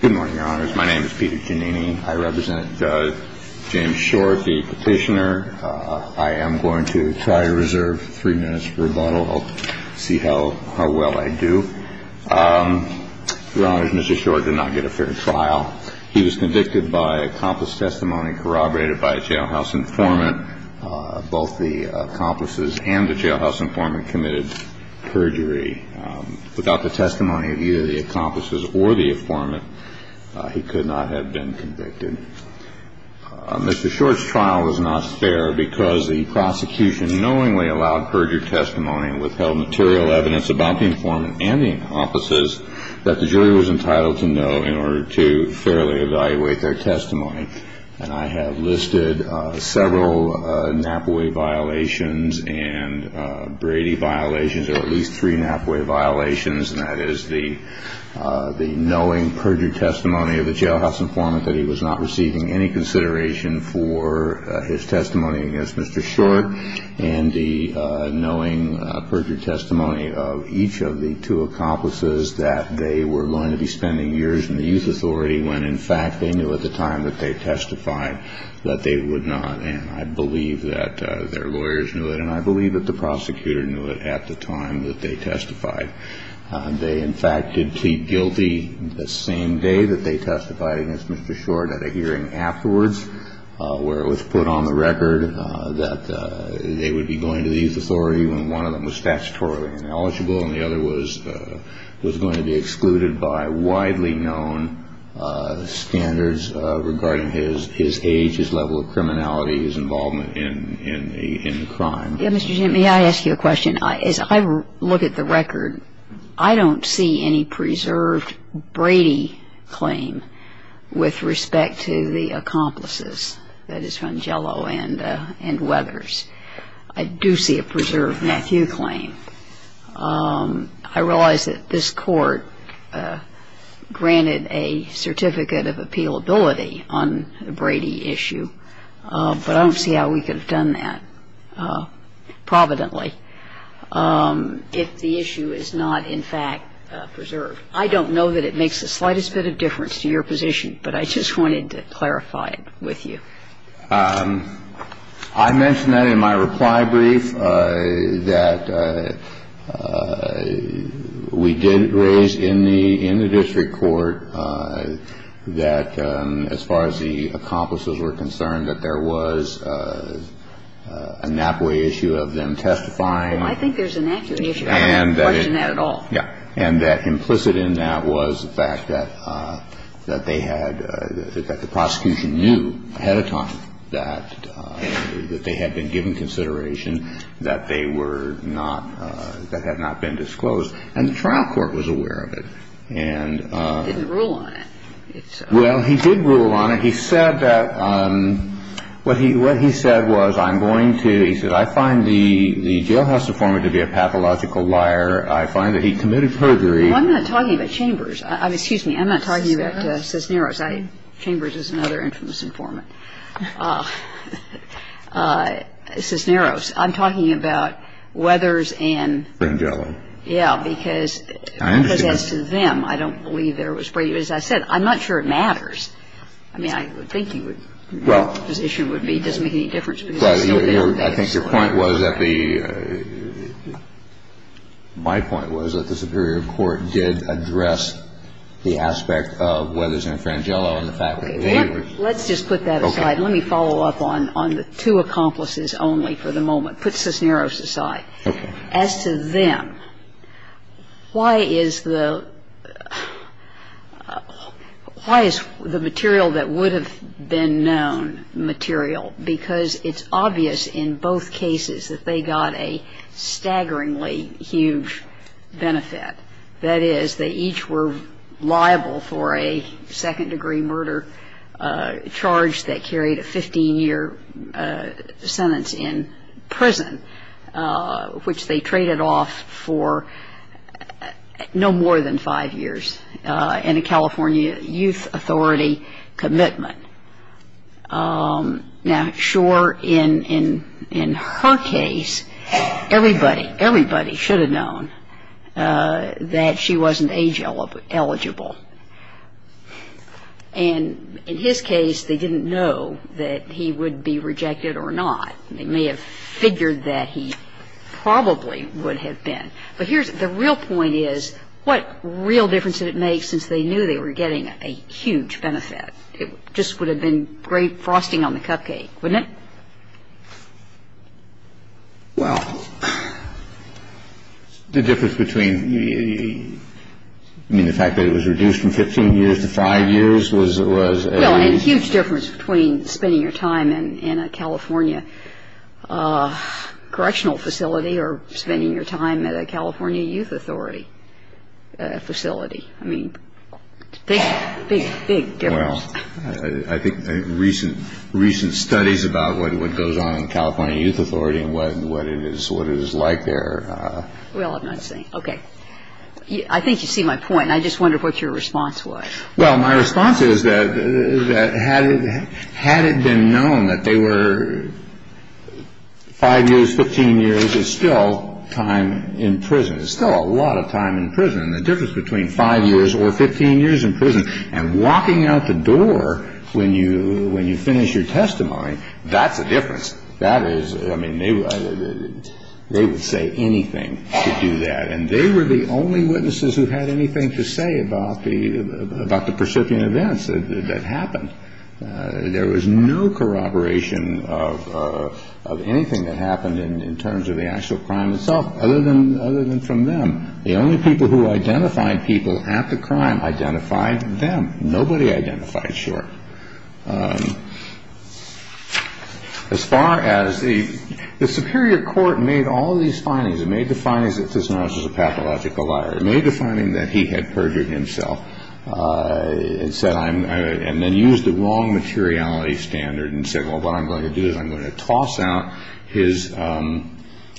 Good morning, your honors. My name is Peter Giannini. I represent Judge James Shore, the petitioner. I am going to try to reserve three minutes for rebuttal. I'll see how well I do. Your honors, Mr. Shore did not get a fair trial. He was convicted by accomplice testimony corroborated by a jailhouse informant. Both the accomplices and the jailhouse informant committed perjury without the testimony of either the accomplices or the informant. He could not have been convicted. Mr. Shore's trial was not fair because the prosecution knowingly allowed perjury testimony and withheld material evidence about the informant and the accomplices that the jury was entitled to know in order to fairly evaluate their testimony. And I have listed several Knappaway violations and Brady violations, or at least three Knappaway violations, and that is the knowing perjury testimony of the jailhouse informant that he was not receiving any consideration for his testimony against Mr. Shore, and the knowing perjury testimony of each of the two accomplices that they were going to be spending years in the youth authority when, in fact, they knew at the time that they failed. They testified that they would not, and I believe that their lawyers knew it, and I believe that the prosecutor knew it at the time that they testified. They, in fact, did plead guilty the same day that they testified against Mr. Shore. Mr. Jim, may I ask you a question? As I look at the record, I don't see any preserved Brady claim with respect to Brady's involvement in the crime. I do see a preserved Matthew claim. I realize that this Court granted a certificate of appealability on the Brady issue, but I don't see how we could have done that providently if the issue is not, in fact, preserved. I don't know that it makes the slightest bit of difference to your position, but I just wanted to clarify it with you. I mentioned that in my reply brief, that we did raise in the district court that, as far as the accomplices were concerned, that there was a Knappaway issue of them testifying. Well, I think there's an accurate issue. I don't have to question that at all. But that's a good question. I think that the prosecution was aware of that, and that implicit in that was the fact that they had the prosecution knew ahead of time that they had been given consideration, that they were not – that had not been disclosed. And the trial court was aware of it. And… He didn't rule on it. Well, he did rule on it. He said that – what he said was, I'm going to – he said, I find the jailhouse informant to be a pathological liar. I find that he committed perjury. Well, I'm not talking about Chambers. Excuse me. I'm not talking about Cisneros. Chambers is another infamous informant. Cisneros. I'm talking about Weathers and… Brangelo. Yeah, because… I understand. Because as to them, I don't believe there was Brady. As I said, I'm not sure it matters. I mean, I would think he would – his position would be it doesn't make any difference because he's still there. I think your point was that the – my point was that the superior court did address the aspect of Weathers and Brangelo and the fact that they were… Let's just put that aside. Let me follow up on the two accomplices only for the moment. Put Cisneros aside. Okay. As to them, why is the – why is the material that would have been known material? Because it's obvious in both cases that they got a staggeringly huge benefit. That is, they each were liable for a second-degree murder charge that carried a 15-year sentence in prison, which they traded off for no more than five years, and a California Youth Authority commitment. Now, sure, in her case, everybody – everybody should have known that she wasn't age-eligible. And in his case, they didn't know that he would be rejected or not. They may have figured that he probably would have been. But here's – the real point is, what real difference did it make since they knew they were getting a huge benefit? It just would have been great frosting on the cupcake, wouldn't it? Well, the difference between the – I mean, the fact that it was reduced from 15 years to five years was a… Well, and a huge difference between spending your time in a California correctional facility or spending your time at a California Youth Authority facility. I mean, it's a big, big, big difference. Well, I think recent – recent studies about what goes on in California Youth Authority and what it is – what it is like there… Well, I'm not saying – okay. I think you see my point, and I just wondered what your response was. Well, my response is that had it been known that they were five years, 15 years, it's still time in prison. It's still a lot of time in prison. And the difference between five years or 15 years in prison and walking out the door when you finish your testimony, that's a difference. That is – I mean, they would say anything to do that. And they were the only witnesses who had anything to say about the – about the percipient events that happened. There was no corroboration of anything that happened in terms of the actual crime itself other than – other than from them. The only people who identified people at the crime identified them. Nobody identified short. As far as the – the superior court made all these findings. It made the findings that this man was just a pathological liar. It made the finding that he had perjured himself and said I'm – and then used the wrong materiality standard and said, well, what I'm going to do is I'm going to toss out his –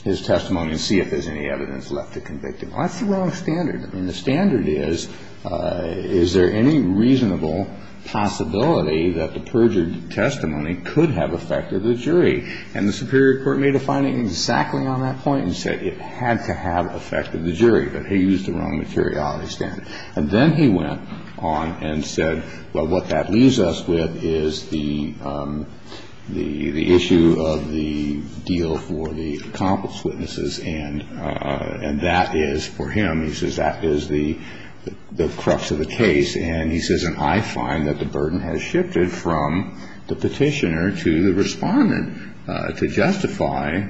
his testimony and see if there's any evidence left to convict him. That's the wrong standard. And the standard is, is there any reasonable possibility that the perjured testimony could have affected the jury? And the superior court made a finding exactly on that point and said it had to have affected the jury. But he used the wrong materiality standard. And then he went on and said, well, what that leaves us with is the – the issue of the deal for the accomplice witnesses. And – and that is for him. He says that is the – the crux of the case. And he says, and I find that the burden has shifted from the petitioner to the respondent to justify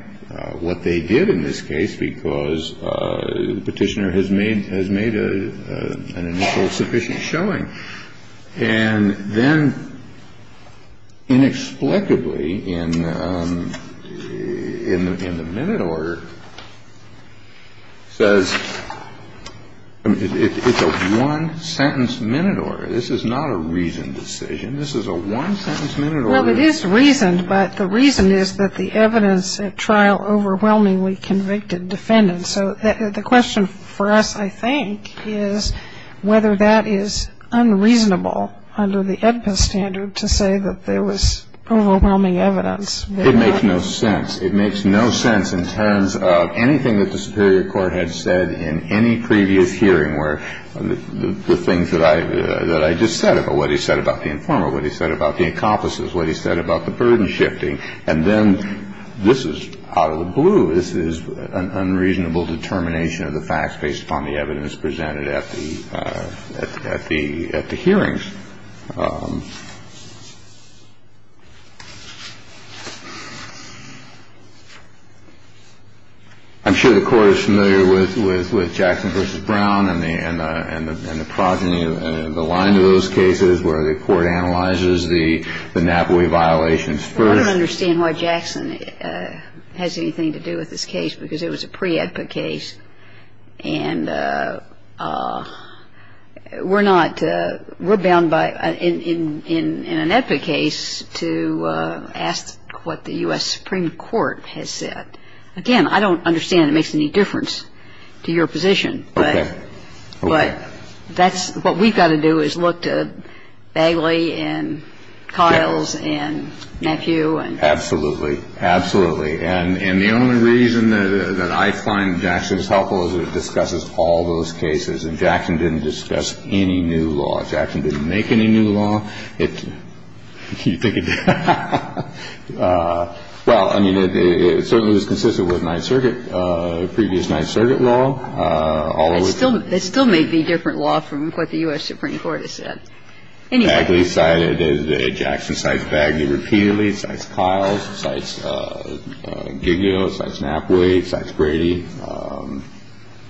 what they did in this case because the petitioner has made – has made an initial sufficient showing. And then inexplicably in – in the – in the minute order says – it's a one-sentence minute order. This is not a reasoned decision. This is a one-sentence minute order. Well, it is reasoned, but the reason is that the evidence at trial overwhelmingly convicted defendants. So the question for us, I think, is whether that is unreasonable under the Edpus standard to say that there was overwhelming evidence. It makes no sense. It makes no sense in terms of anything that the superior court had said in any previous hearing where the things that I – that I just said about what he said about the informer, what he said about the accomplices, what he said about the burden shifting. And then this is out of the blue. This is an unreasonable determination of the facts based upon the evidence presented at the – at the – at the hearings. I'm sure the Court is familiar with – with Jackson v. Brown and the – and the – and the progeny and the line of those cases where the Court analyzes the – the Napoli violations first. I don't understand why Jackson has anything to do with this case because it was a pre-Edput case. And we're not – we're bound by – in an Edput case to ask what the U.S. Supreme Court has said. Again, I don't understand it makes any difference to your position. Okay. But that's – what we've got to do is look to Bagley and Kiles and Nephew and – Absolutely. Absolutely. And the only reason that I find Jackson's helpful is that it discusses all those cases. And Jackson didn't discuss any new law. Jackson didn't make any new law. It – you think it – well, I mean, it certainly was consistent with Ninth Circuit, previous Ninth Circuit law, all of which – It still – it still may be different law from what the U.S. Supreme Court has said. Anyway. Bagley cited – Jackson cites Bagley repeatedly. Cites Kiles. Cites Giglio. Cites Napoli. Cites Brady. And –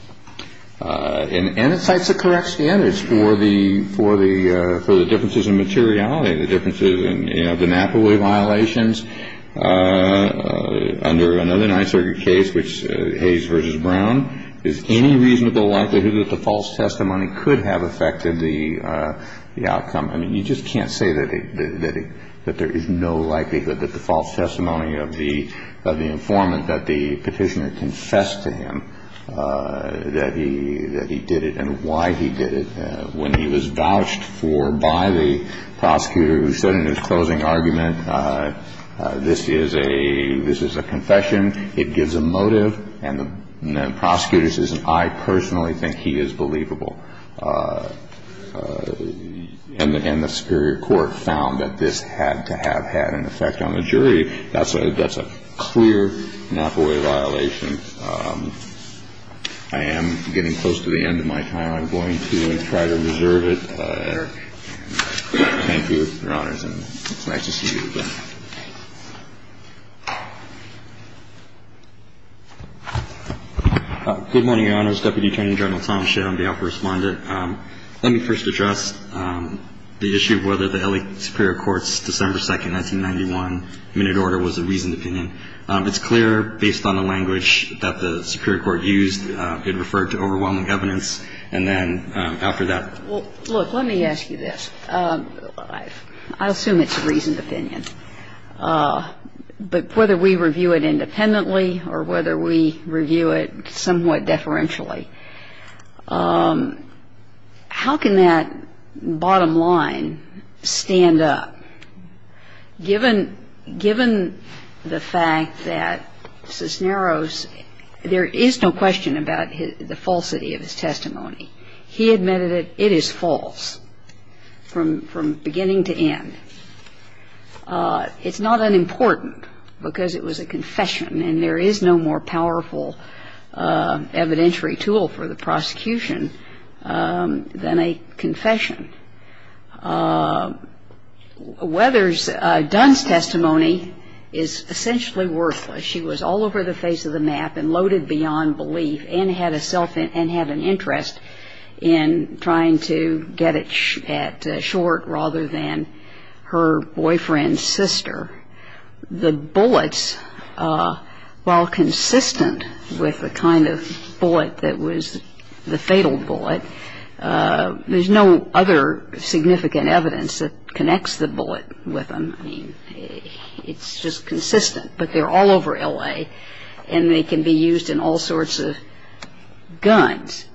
and it cites the correct standards for the – for the – for the differences in materiality, the differences in, you know, the Napoli violations under another Ninth Circuit case, which – Hayes v. Brown. Is any reasonable likelihood that the false testimony could have affected the outcome? I mean, you just can't say that it – that there is no likelihood that the false testimony of the – of the informant that the petitioner confessed to him that he – that he did it and why he did it when he was vouched for by the prosecutor who said in his closing argument, this is a – this is a confession. It gives a motive. And the prosecutor says, I personally think he is believable. And the – and the Superior Court found that this had to have had an effect on the jury. That's a – that's a clear Napoli violation. I am getting close to the end of my time. I'm going to try to reserve it, Eric. Thank you, Your Honors. And it's nice to see you again. Good morning, Your Honors. Deputy Attorney General Tom Schiff. I'm the offer respondent. Let me first address the issue of whether the L.A. Superior Court's December 2, 1991, minute order was a reasoned opinion. It's clear, based on the language that the Superior Court used, it referred to overwhelming evidence. And then after that – Well, look, let me ask you this. I assume it's a reasoned opinion. But whether we review it independently or whether we review it somewhat deferentially, how can that bottom line stand up? Given – given the fact that Cisneros – there is no question about the falsity of his testimony. He admitted it. It is false from – from beginning to end. It's not unimportant because it was a confession. And there is no more powerful evidentiary tool for the prosecution than a confession. Weathers – Dunn's testimony is essentially worthless. She was all over the face of the map and loaded beyond belief and had a self – and had an interest in trying to get it short rather than her boyfriend's sister. The bullets, while consistent with the kind of bullet that was the fatal bullet, there's no other significant evidence that connects the bullet with them. I mean, it's just consistent. But they're all over L.A. and they can be used in all sorts of guns.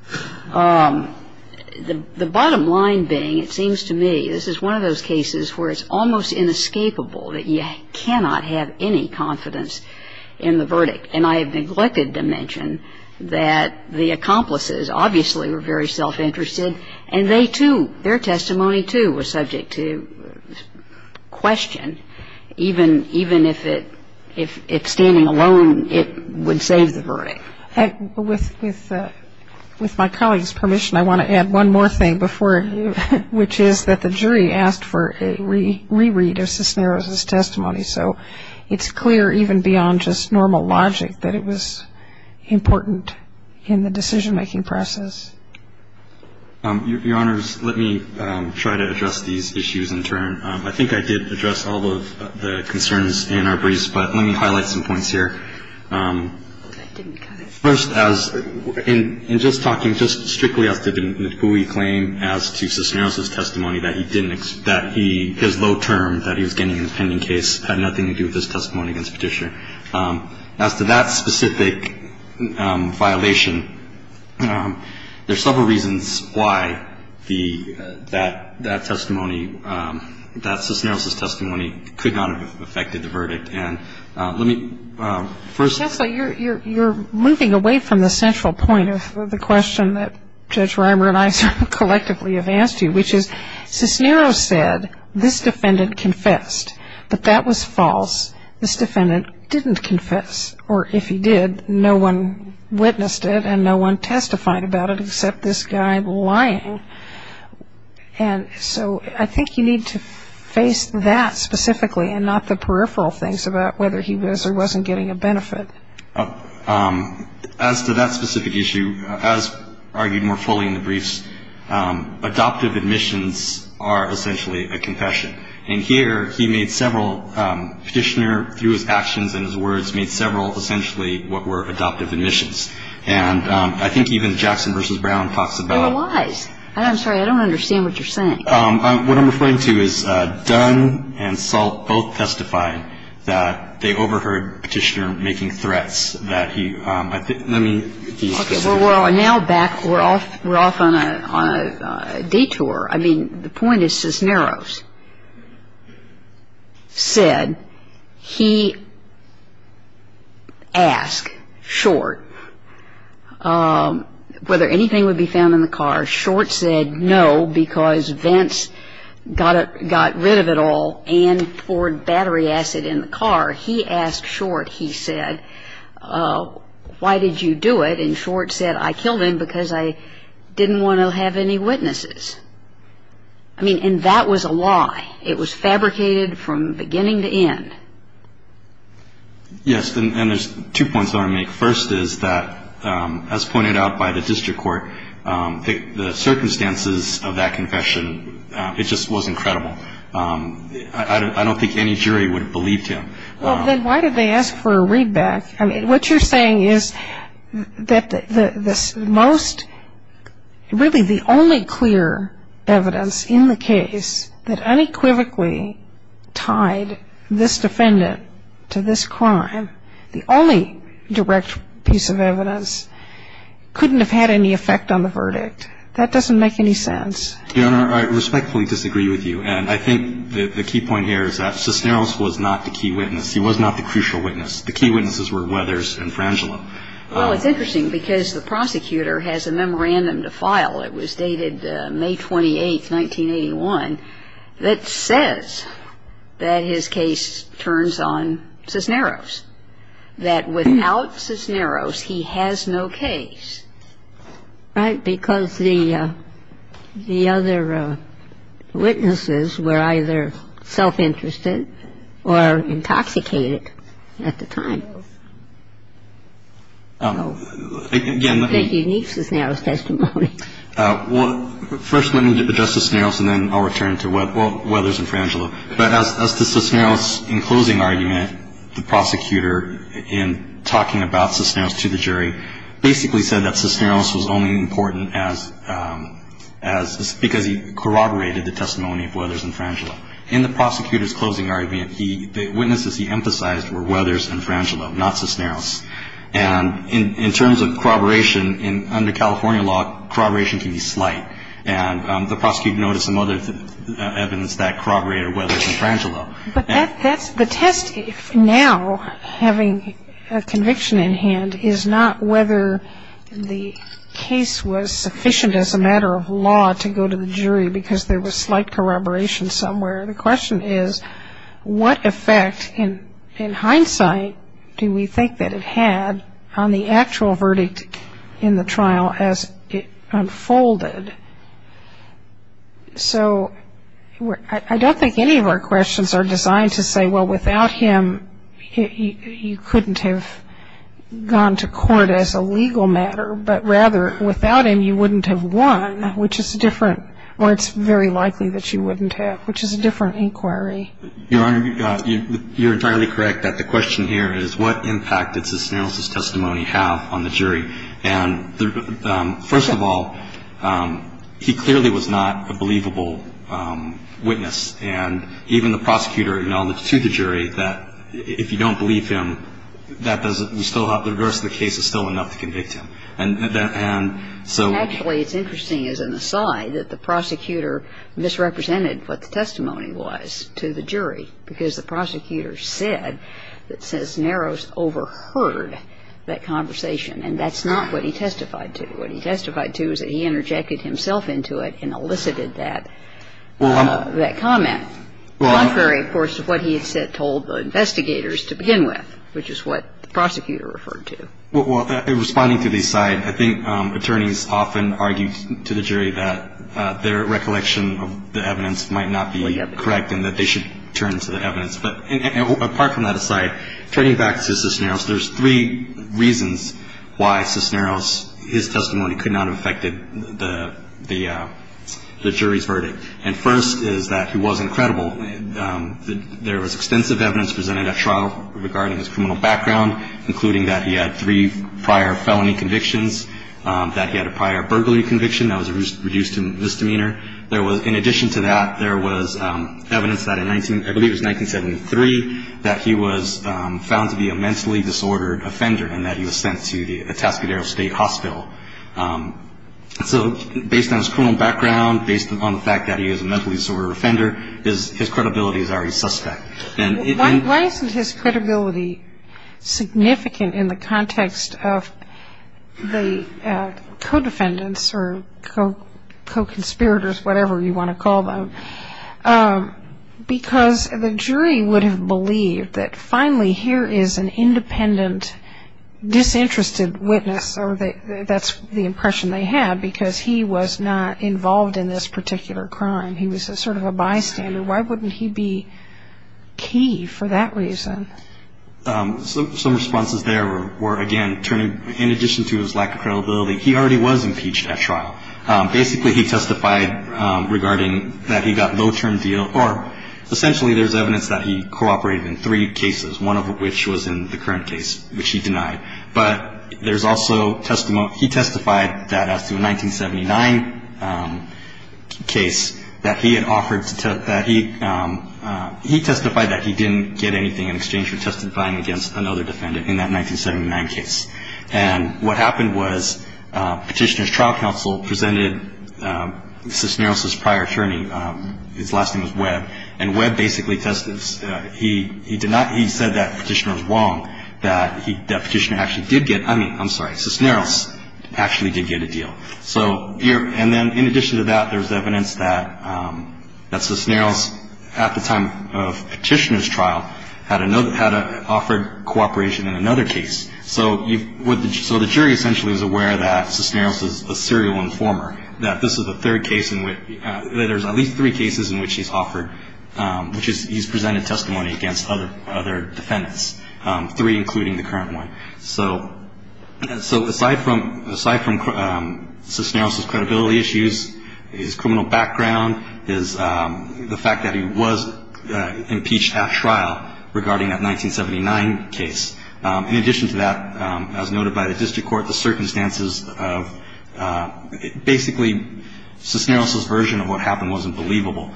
The bottom line being, it seems to me, this is one of those cases where it's almost inescapable and I have neglected to mention that the accomplices obviously were very self-interested and they, too – their testimony, too, was subject to question, even if it – if standing alone it would save the verdict. With my colleague's permission, I want to add one more thing before – which is that the jury asked for a reread of Cisneros' testimony. So it's clear, even beyond just normal logic, that it was important in the decision-making process. Your Honors, let me try to address these issues in turn. I think I did address all of the concerns in our briefs, but let me highlight some points here. First, as – in just talking just strictly as to the McGooey claim as to Cisneros' testimony, that he didn't – that he – his low term that he was getting in the pending case had nothing to do with his testimony against Petitioner. As to that specific violation, there's several reasons why the – that that testimony, that Cisneros' testimony could not have affected the verdict. And let me first – Justice, you're moving away from the central point of the question that Judge Reimer and I sort of collectively have asked you, which is Cisneros said, this defendant confessed, but that was false. This defendant didn't confess, or if he did, no one witnessed it and no one testified about it except this guy lying. And so I think you need to face that specifically and not the peripheral things about whether he was or wasn't getting a benefit. As to that specific issue, as argued more fully in the briefs, adoptive admissions are essentially a confession. And here he made several – Petitioner, through his actions and his words, made several essentially what were adoptive admissions. And I think even Jackson v. Brown talks about – There were lies. I'm sorry, I don't understand what you're saying. What I'm referring to is Dunn and Salt both testified that they overheard Petitioner making threats that he – let me – Well, now back – we're off on a detour. I mean, the point is Cisneros said he asked Short whether anything would be found in the car. Short said no because Vence got rid of it all and poured battery acid in the car. He asked Short, he said, why did you do it? And Short said, I killed him because I didn't want to have any witnesses. I mean, and that was a lie. It was fabricated from beginning to end. Yes, and there's two points I want to make. First is that, as pointed out by the district court, the circumstances of that confession, it just was incredible. I don't think any jury would have believed him. Well, then why did they ask for a readback? I mean, what you're saying is that the most – really the only clear evidence in the case that unequivocally tied this defendant to this crime, the only direct piece of evidence, couldn't have had any effect on the verdict. That doesn't make any sense. Your Honor, I respectfully disagree with you. And I think the key point here is that Cisneros was not the key witness. He was not the crucial witness. The key witnesses were Weathers and Frangelo. Well, it's interesting because the prosecutor has a memorandum to file. It was dated May 28, 1981, that says that his case turns on Cisneros, that without Cisneros, he has no case. Right, because the other witnesses were either self-interested or intoxicated at the time. Again, let me – A unique Cisneros testimony. Well, first let me address Cisneros, and then I'll return to Weathers and Frangelo. But as to Cisneros in closing argument, the prosecutor in talking about Cisneros to the jury basically said that Cisneros was only important as – because he corroborated the testimony of Weathers and Frangelo. In the prosecutor's closing argument, the witnesses he emphasized were Weathers and Frangelo, not Cisneros. And in terms of corroboration, under California law, corroboration can be slight. And the prosecutor noted some other evidence that corroborated Weathers and Frangelo. But that's – the test now, having a conviction in hand, is not whether the case was sufficient as a matter of law to go to the jury because there was slight corroboration somewhere. The question is, what effect, in hindsight, do we think that it had on the actual verdict in the trial as it unfolded? So I don't think any of our questions are designed to say, well, without him, you couldn't have gone to court as a legal matter. But rather, without him, you wouldn't have won, which is a different – or it's very likely that you wouldn't have, which is a different inquiry. Your Honor, you're entirely correct that the question here is, what impact did Cisneros' testimony have on the jury? And first of all, he clearly was not a believable witness. And even the prosecutor acknowledged to the jury that if you don't believe him, that doesn't – we still have – the rest of the case is still enough to convict him. Actually, it's interesting, as an aside, that the prosecutor misrepresented what the testimony was to the jury because the prosecutor said that Cisneros overheard that conversation. And that's not what he testified to. What he testified to is that he interjected himself into it and elicited that comment. Contrary, of course, to what he had told the investigators to begin with, which is what the prosecutor referred to. Responding to the aside, I think attorneys often argue to the jury that their recollection of the evidence might not be correct and that they should turn to the evidence. But apart from that aside, turning back to Cisneros, there's three reasons why Cisneros' testimony could not have affected the jury's verdict. And first is that he wasn't credible. There was extensive evidence presented at trial regarding his criminal background, including that he had three prior felony convictions, that he had a prior burglary conviction that was reduced to misdemeanor. In addition to that, there was evidence that in, I believe it was 1973, that he was found to be a mentally disordered offender and that he was sent to the Atascadero State Hospital. So based on his criminal background, based upon the fact that he is a mentally disordered offender, his credibility is already suspect. Why isn't his credibility significant in the context of the co-defendants or co-conspirators, whatever you want to call them? Because the jury would have believed that finally here is an independent, disinterested witness, or that's the impression they had, because he was not involved in this particular crime. He was sort of a bystander. Why wouldn't he be key for that reason? Some responses there were, again, in addition to his lack of credibility, he already was impeached at trial. Basically, he testified regarding that he got no term deal, or essentially there's evidence that he cooperated in three cases, one of which was in the current case, which he denied. But there's also testimony, he testified that as to a 1979 case, that he testified that he didn't get anything in exchange for testifying against another defendant in that 1979 case. And what happened was Petitioner's trial counsel presented Cisneros' prior attorney, his last name was Webb, and Webb basically testified. He denied, he said that Petitioner was wrong, that Petitioner actually did get, I mean, I'm sorry, Cisneros actually did get a deal. And then in addition to that, there's evidence that Cisneros, at the time of Petitioner's trial, had offered cooperation in another case. So the jury essentially is aware that Cisneros is a serial informer, that this is the third case in which, that there's at least three cases in which he's offered, which is he's presented testimony against other defendants, three including the current one. So aside from Cisneros' credibility issues, his criminal background, the fact that he was impeached at trial regarding that 1979 case. In addition to that, as noted by the district court, the circumstances of basically Cisneros' version of what happened was unbelievable.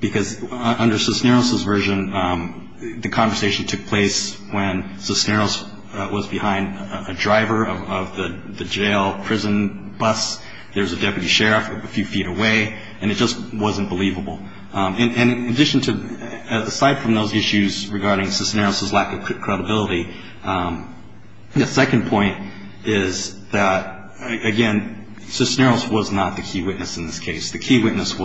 Because under Cisneros' version, the conversation took place when Cisneros was behind a driver of the jail prison bus, there's a deputy sheriff a few feet away, and it just wasn't believable. And in addition to, aside from those issues regarding Cisneros' lack of credibility, the second point is that, again, Cisneros was not the key witness in this case. The key witnesses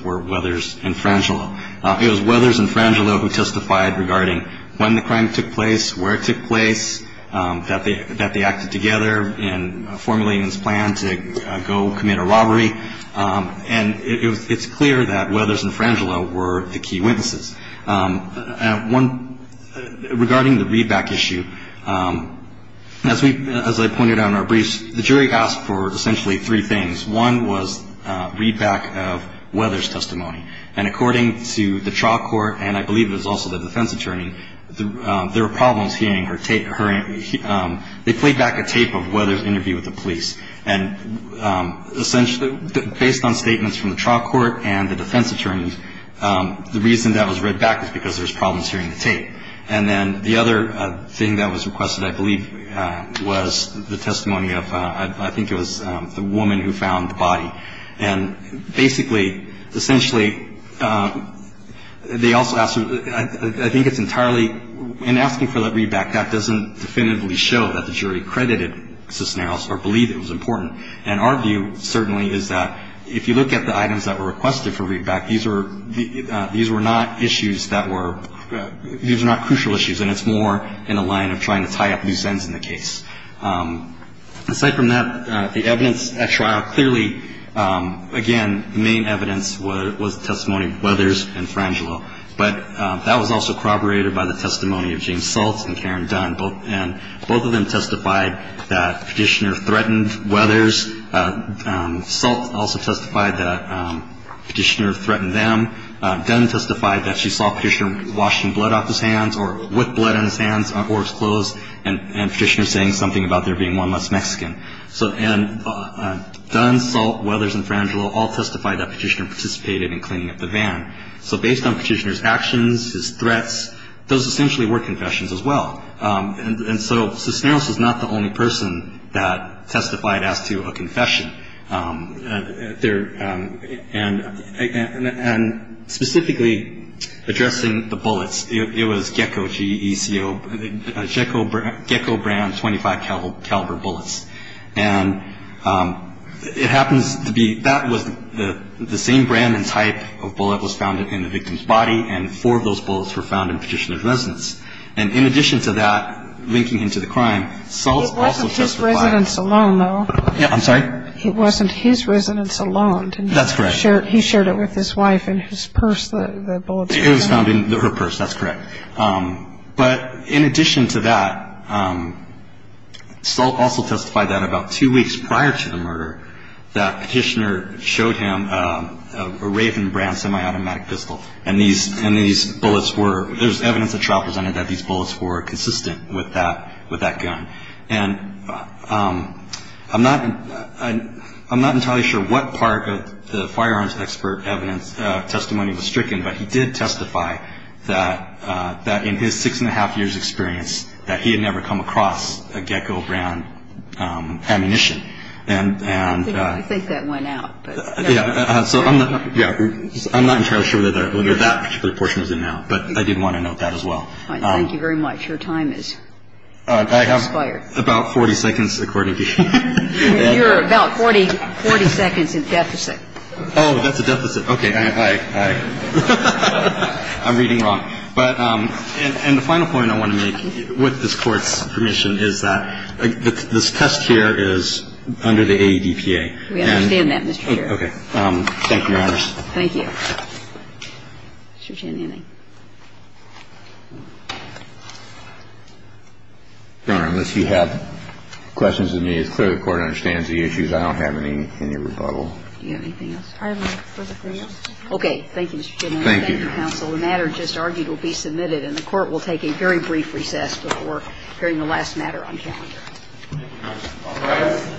were Weathers and Frangelo. It was Weathers and Frangelo who testified regarding when the crime took place, where it took place, that they acted together in formulating this plan to go commit a robbery. And it's clear that Weathers and Frangelo were the key witnesses. One, regarding the readback issue, as I pointed out in our briefs, the jury asked for essentially three things. One was readback of Weathers' testimony. And according to the trial court, and I believe it was also the defense attorney, there were problems hearing her, they played back a tape of Weathers' interview with the police. And essentially, based on statements from the trial court and the defense attorneys, the reason that was readback was because there was problems hearing the tape. And then the other thing that was requested, I believe, was the testimony of, I think it was the woman who found the body. And basically, essentially, they also asked, I think it's entirely, in asking for that readback, that doesn't definitively show that the jury credited Cisneros or believed it was important. And our view, certainly, is that if you look at the items that were requested for readback, these were not issues that were, these were not crucial issues, and it's more in a line of trying to tie up loose ends in the case. Aside from that, the evidence at trial, clearly, again, the main evidence was the testimony of Weathers and Frangelo. But that was also corroborated by the testimony of James Saltz and Karen Dunn, and both of them testified that Petitioner threatened Weathers. Saltz also testified that Petitioner threatened them. Dunn testified that she saw Petitioner washing blood off his hands, or his clothes, and Petitioner saying something about there being one less Mexican. So, and Dunn, Saltz, Weathers, and Frangelo all testified that Petitioner participated in cleaning up the van. So, based on Petitioner's actions, his threats, those essentially were confessions as well. And so, Cisneros was not the only person that testified as to a confession. And specifically, addressing the bullets, it was GECO, G-E-C-O, GECO brand 25 caliber bullets. And it happens to be, that was the same brand and type of bullet was found in the victim's body. And four of those bullets were found in Petitioner's residence. And in addition to that, linking him to the crime, Saltz also testified- It wasn't his residence alone, though. Yeah, I'm sorry? It wasn't his residence alone. That's correct. He shared it with his wife in his purse, the bullets. It was found in her purse, that's correct. But in addition to that, Saltz also testified that about two weeks prior to the murder, that Petitioner showed him a Raven brand semi-automatic pistol. And these bullets were, there's evidence that's represented that these bullets were consistent with that gun. And I'm not entirely sure what part of the firearms expert evidence was stricken, but he did testify that in his six and a half years' experience, that he had never come across a GECO brand ammunition. And- I think that went out, but- Yeah, so I'm not entirely sure whether that particular portion was in there, but I did want to note that as well. Thank you very much. Your time is expired. I have about 40 seconds, according to- You're about 40 seconds in deficit. Oh, that's a deficit. Okay, I, I, I, I'm reading wrong. But, and the final point I want to make, with this Court's permission, is that this test here is under the AEDPA. We understand that, Mr. Chairman. Okay. Thank you, Your Honors. Thank you. Mr. Cheney. Your Honor, unless you have questions of me, it's clear the Court understands the issues. I don't have any rebuttal. Do you have anything else? I have no further questions. Okay. Thank you, Mr. Cheney. Thank you. Thank you, counsel. The matter just argued will be submitted, and the Court will take a very brief recess before hearing the last matter on calendar. Thank you, Your Honor. All rise.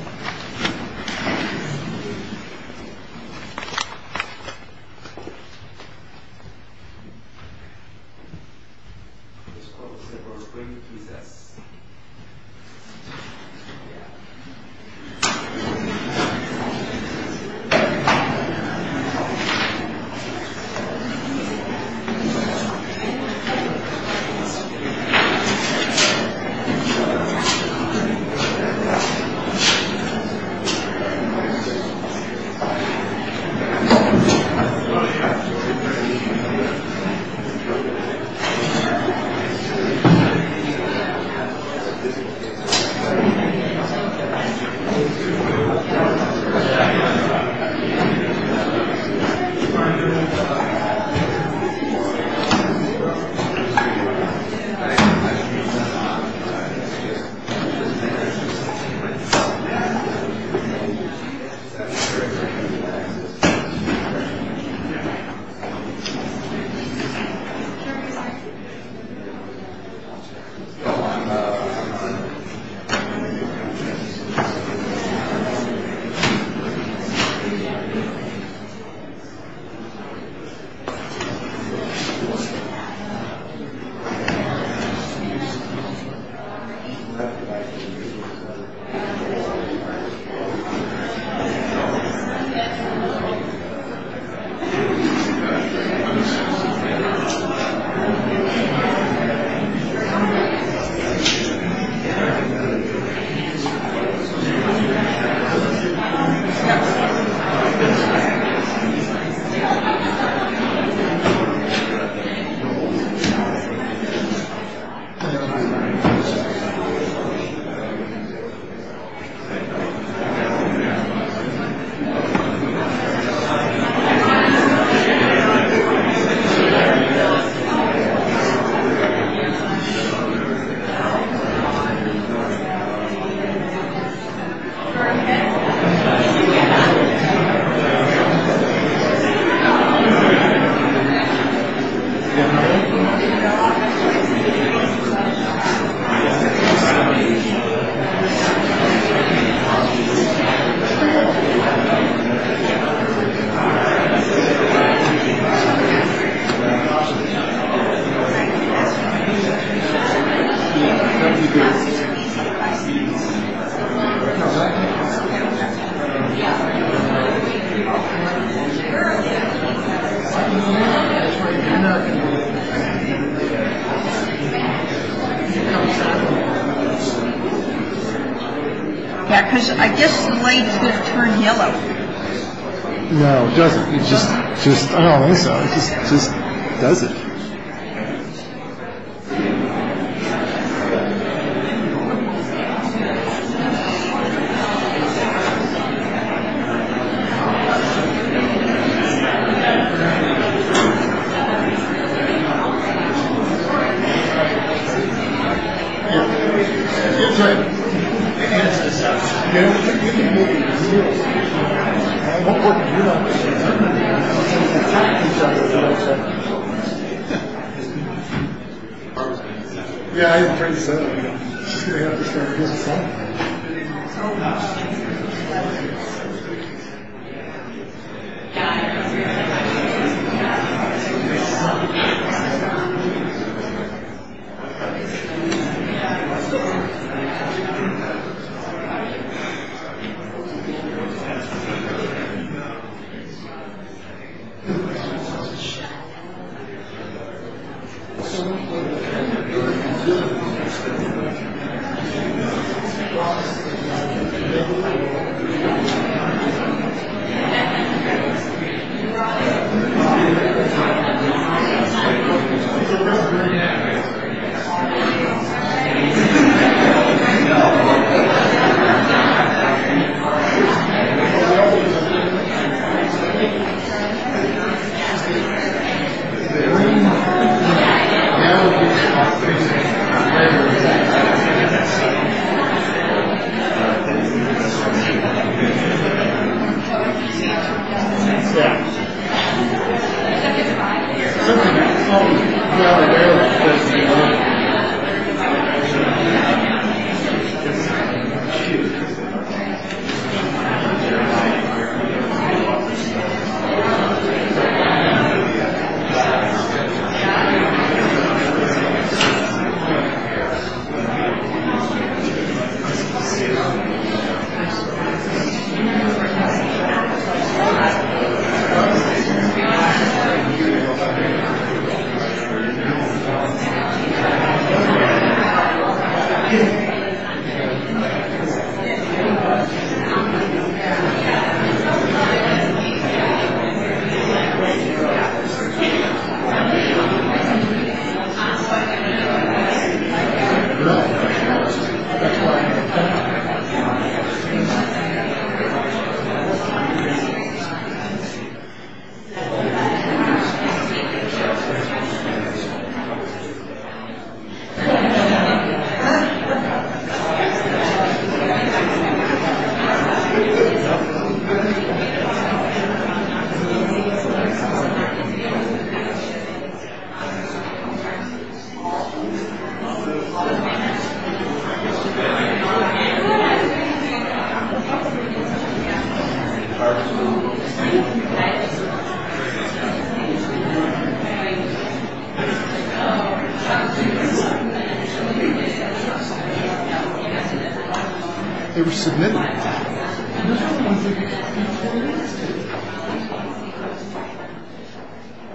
The Court will take a brief recess. Thank you. Thank you. Thank you. Thank you. Thank you. Thank you. Thank you. Thank you. Thank you. Thank you. Thank you. Thank you. Thank you. Thank you. Thank you. Thank you. Can we get a vote, please? Thank you. Thank you. Thank you. Thank you. Thank you. Thank you. Thank you. Thank you.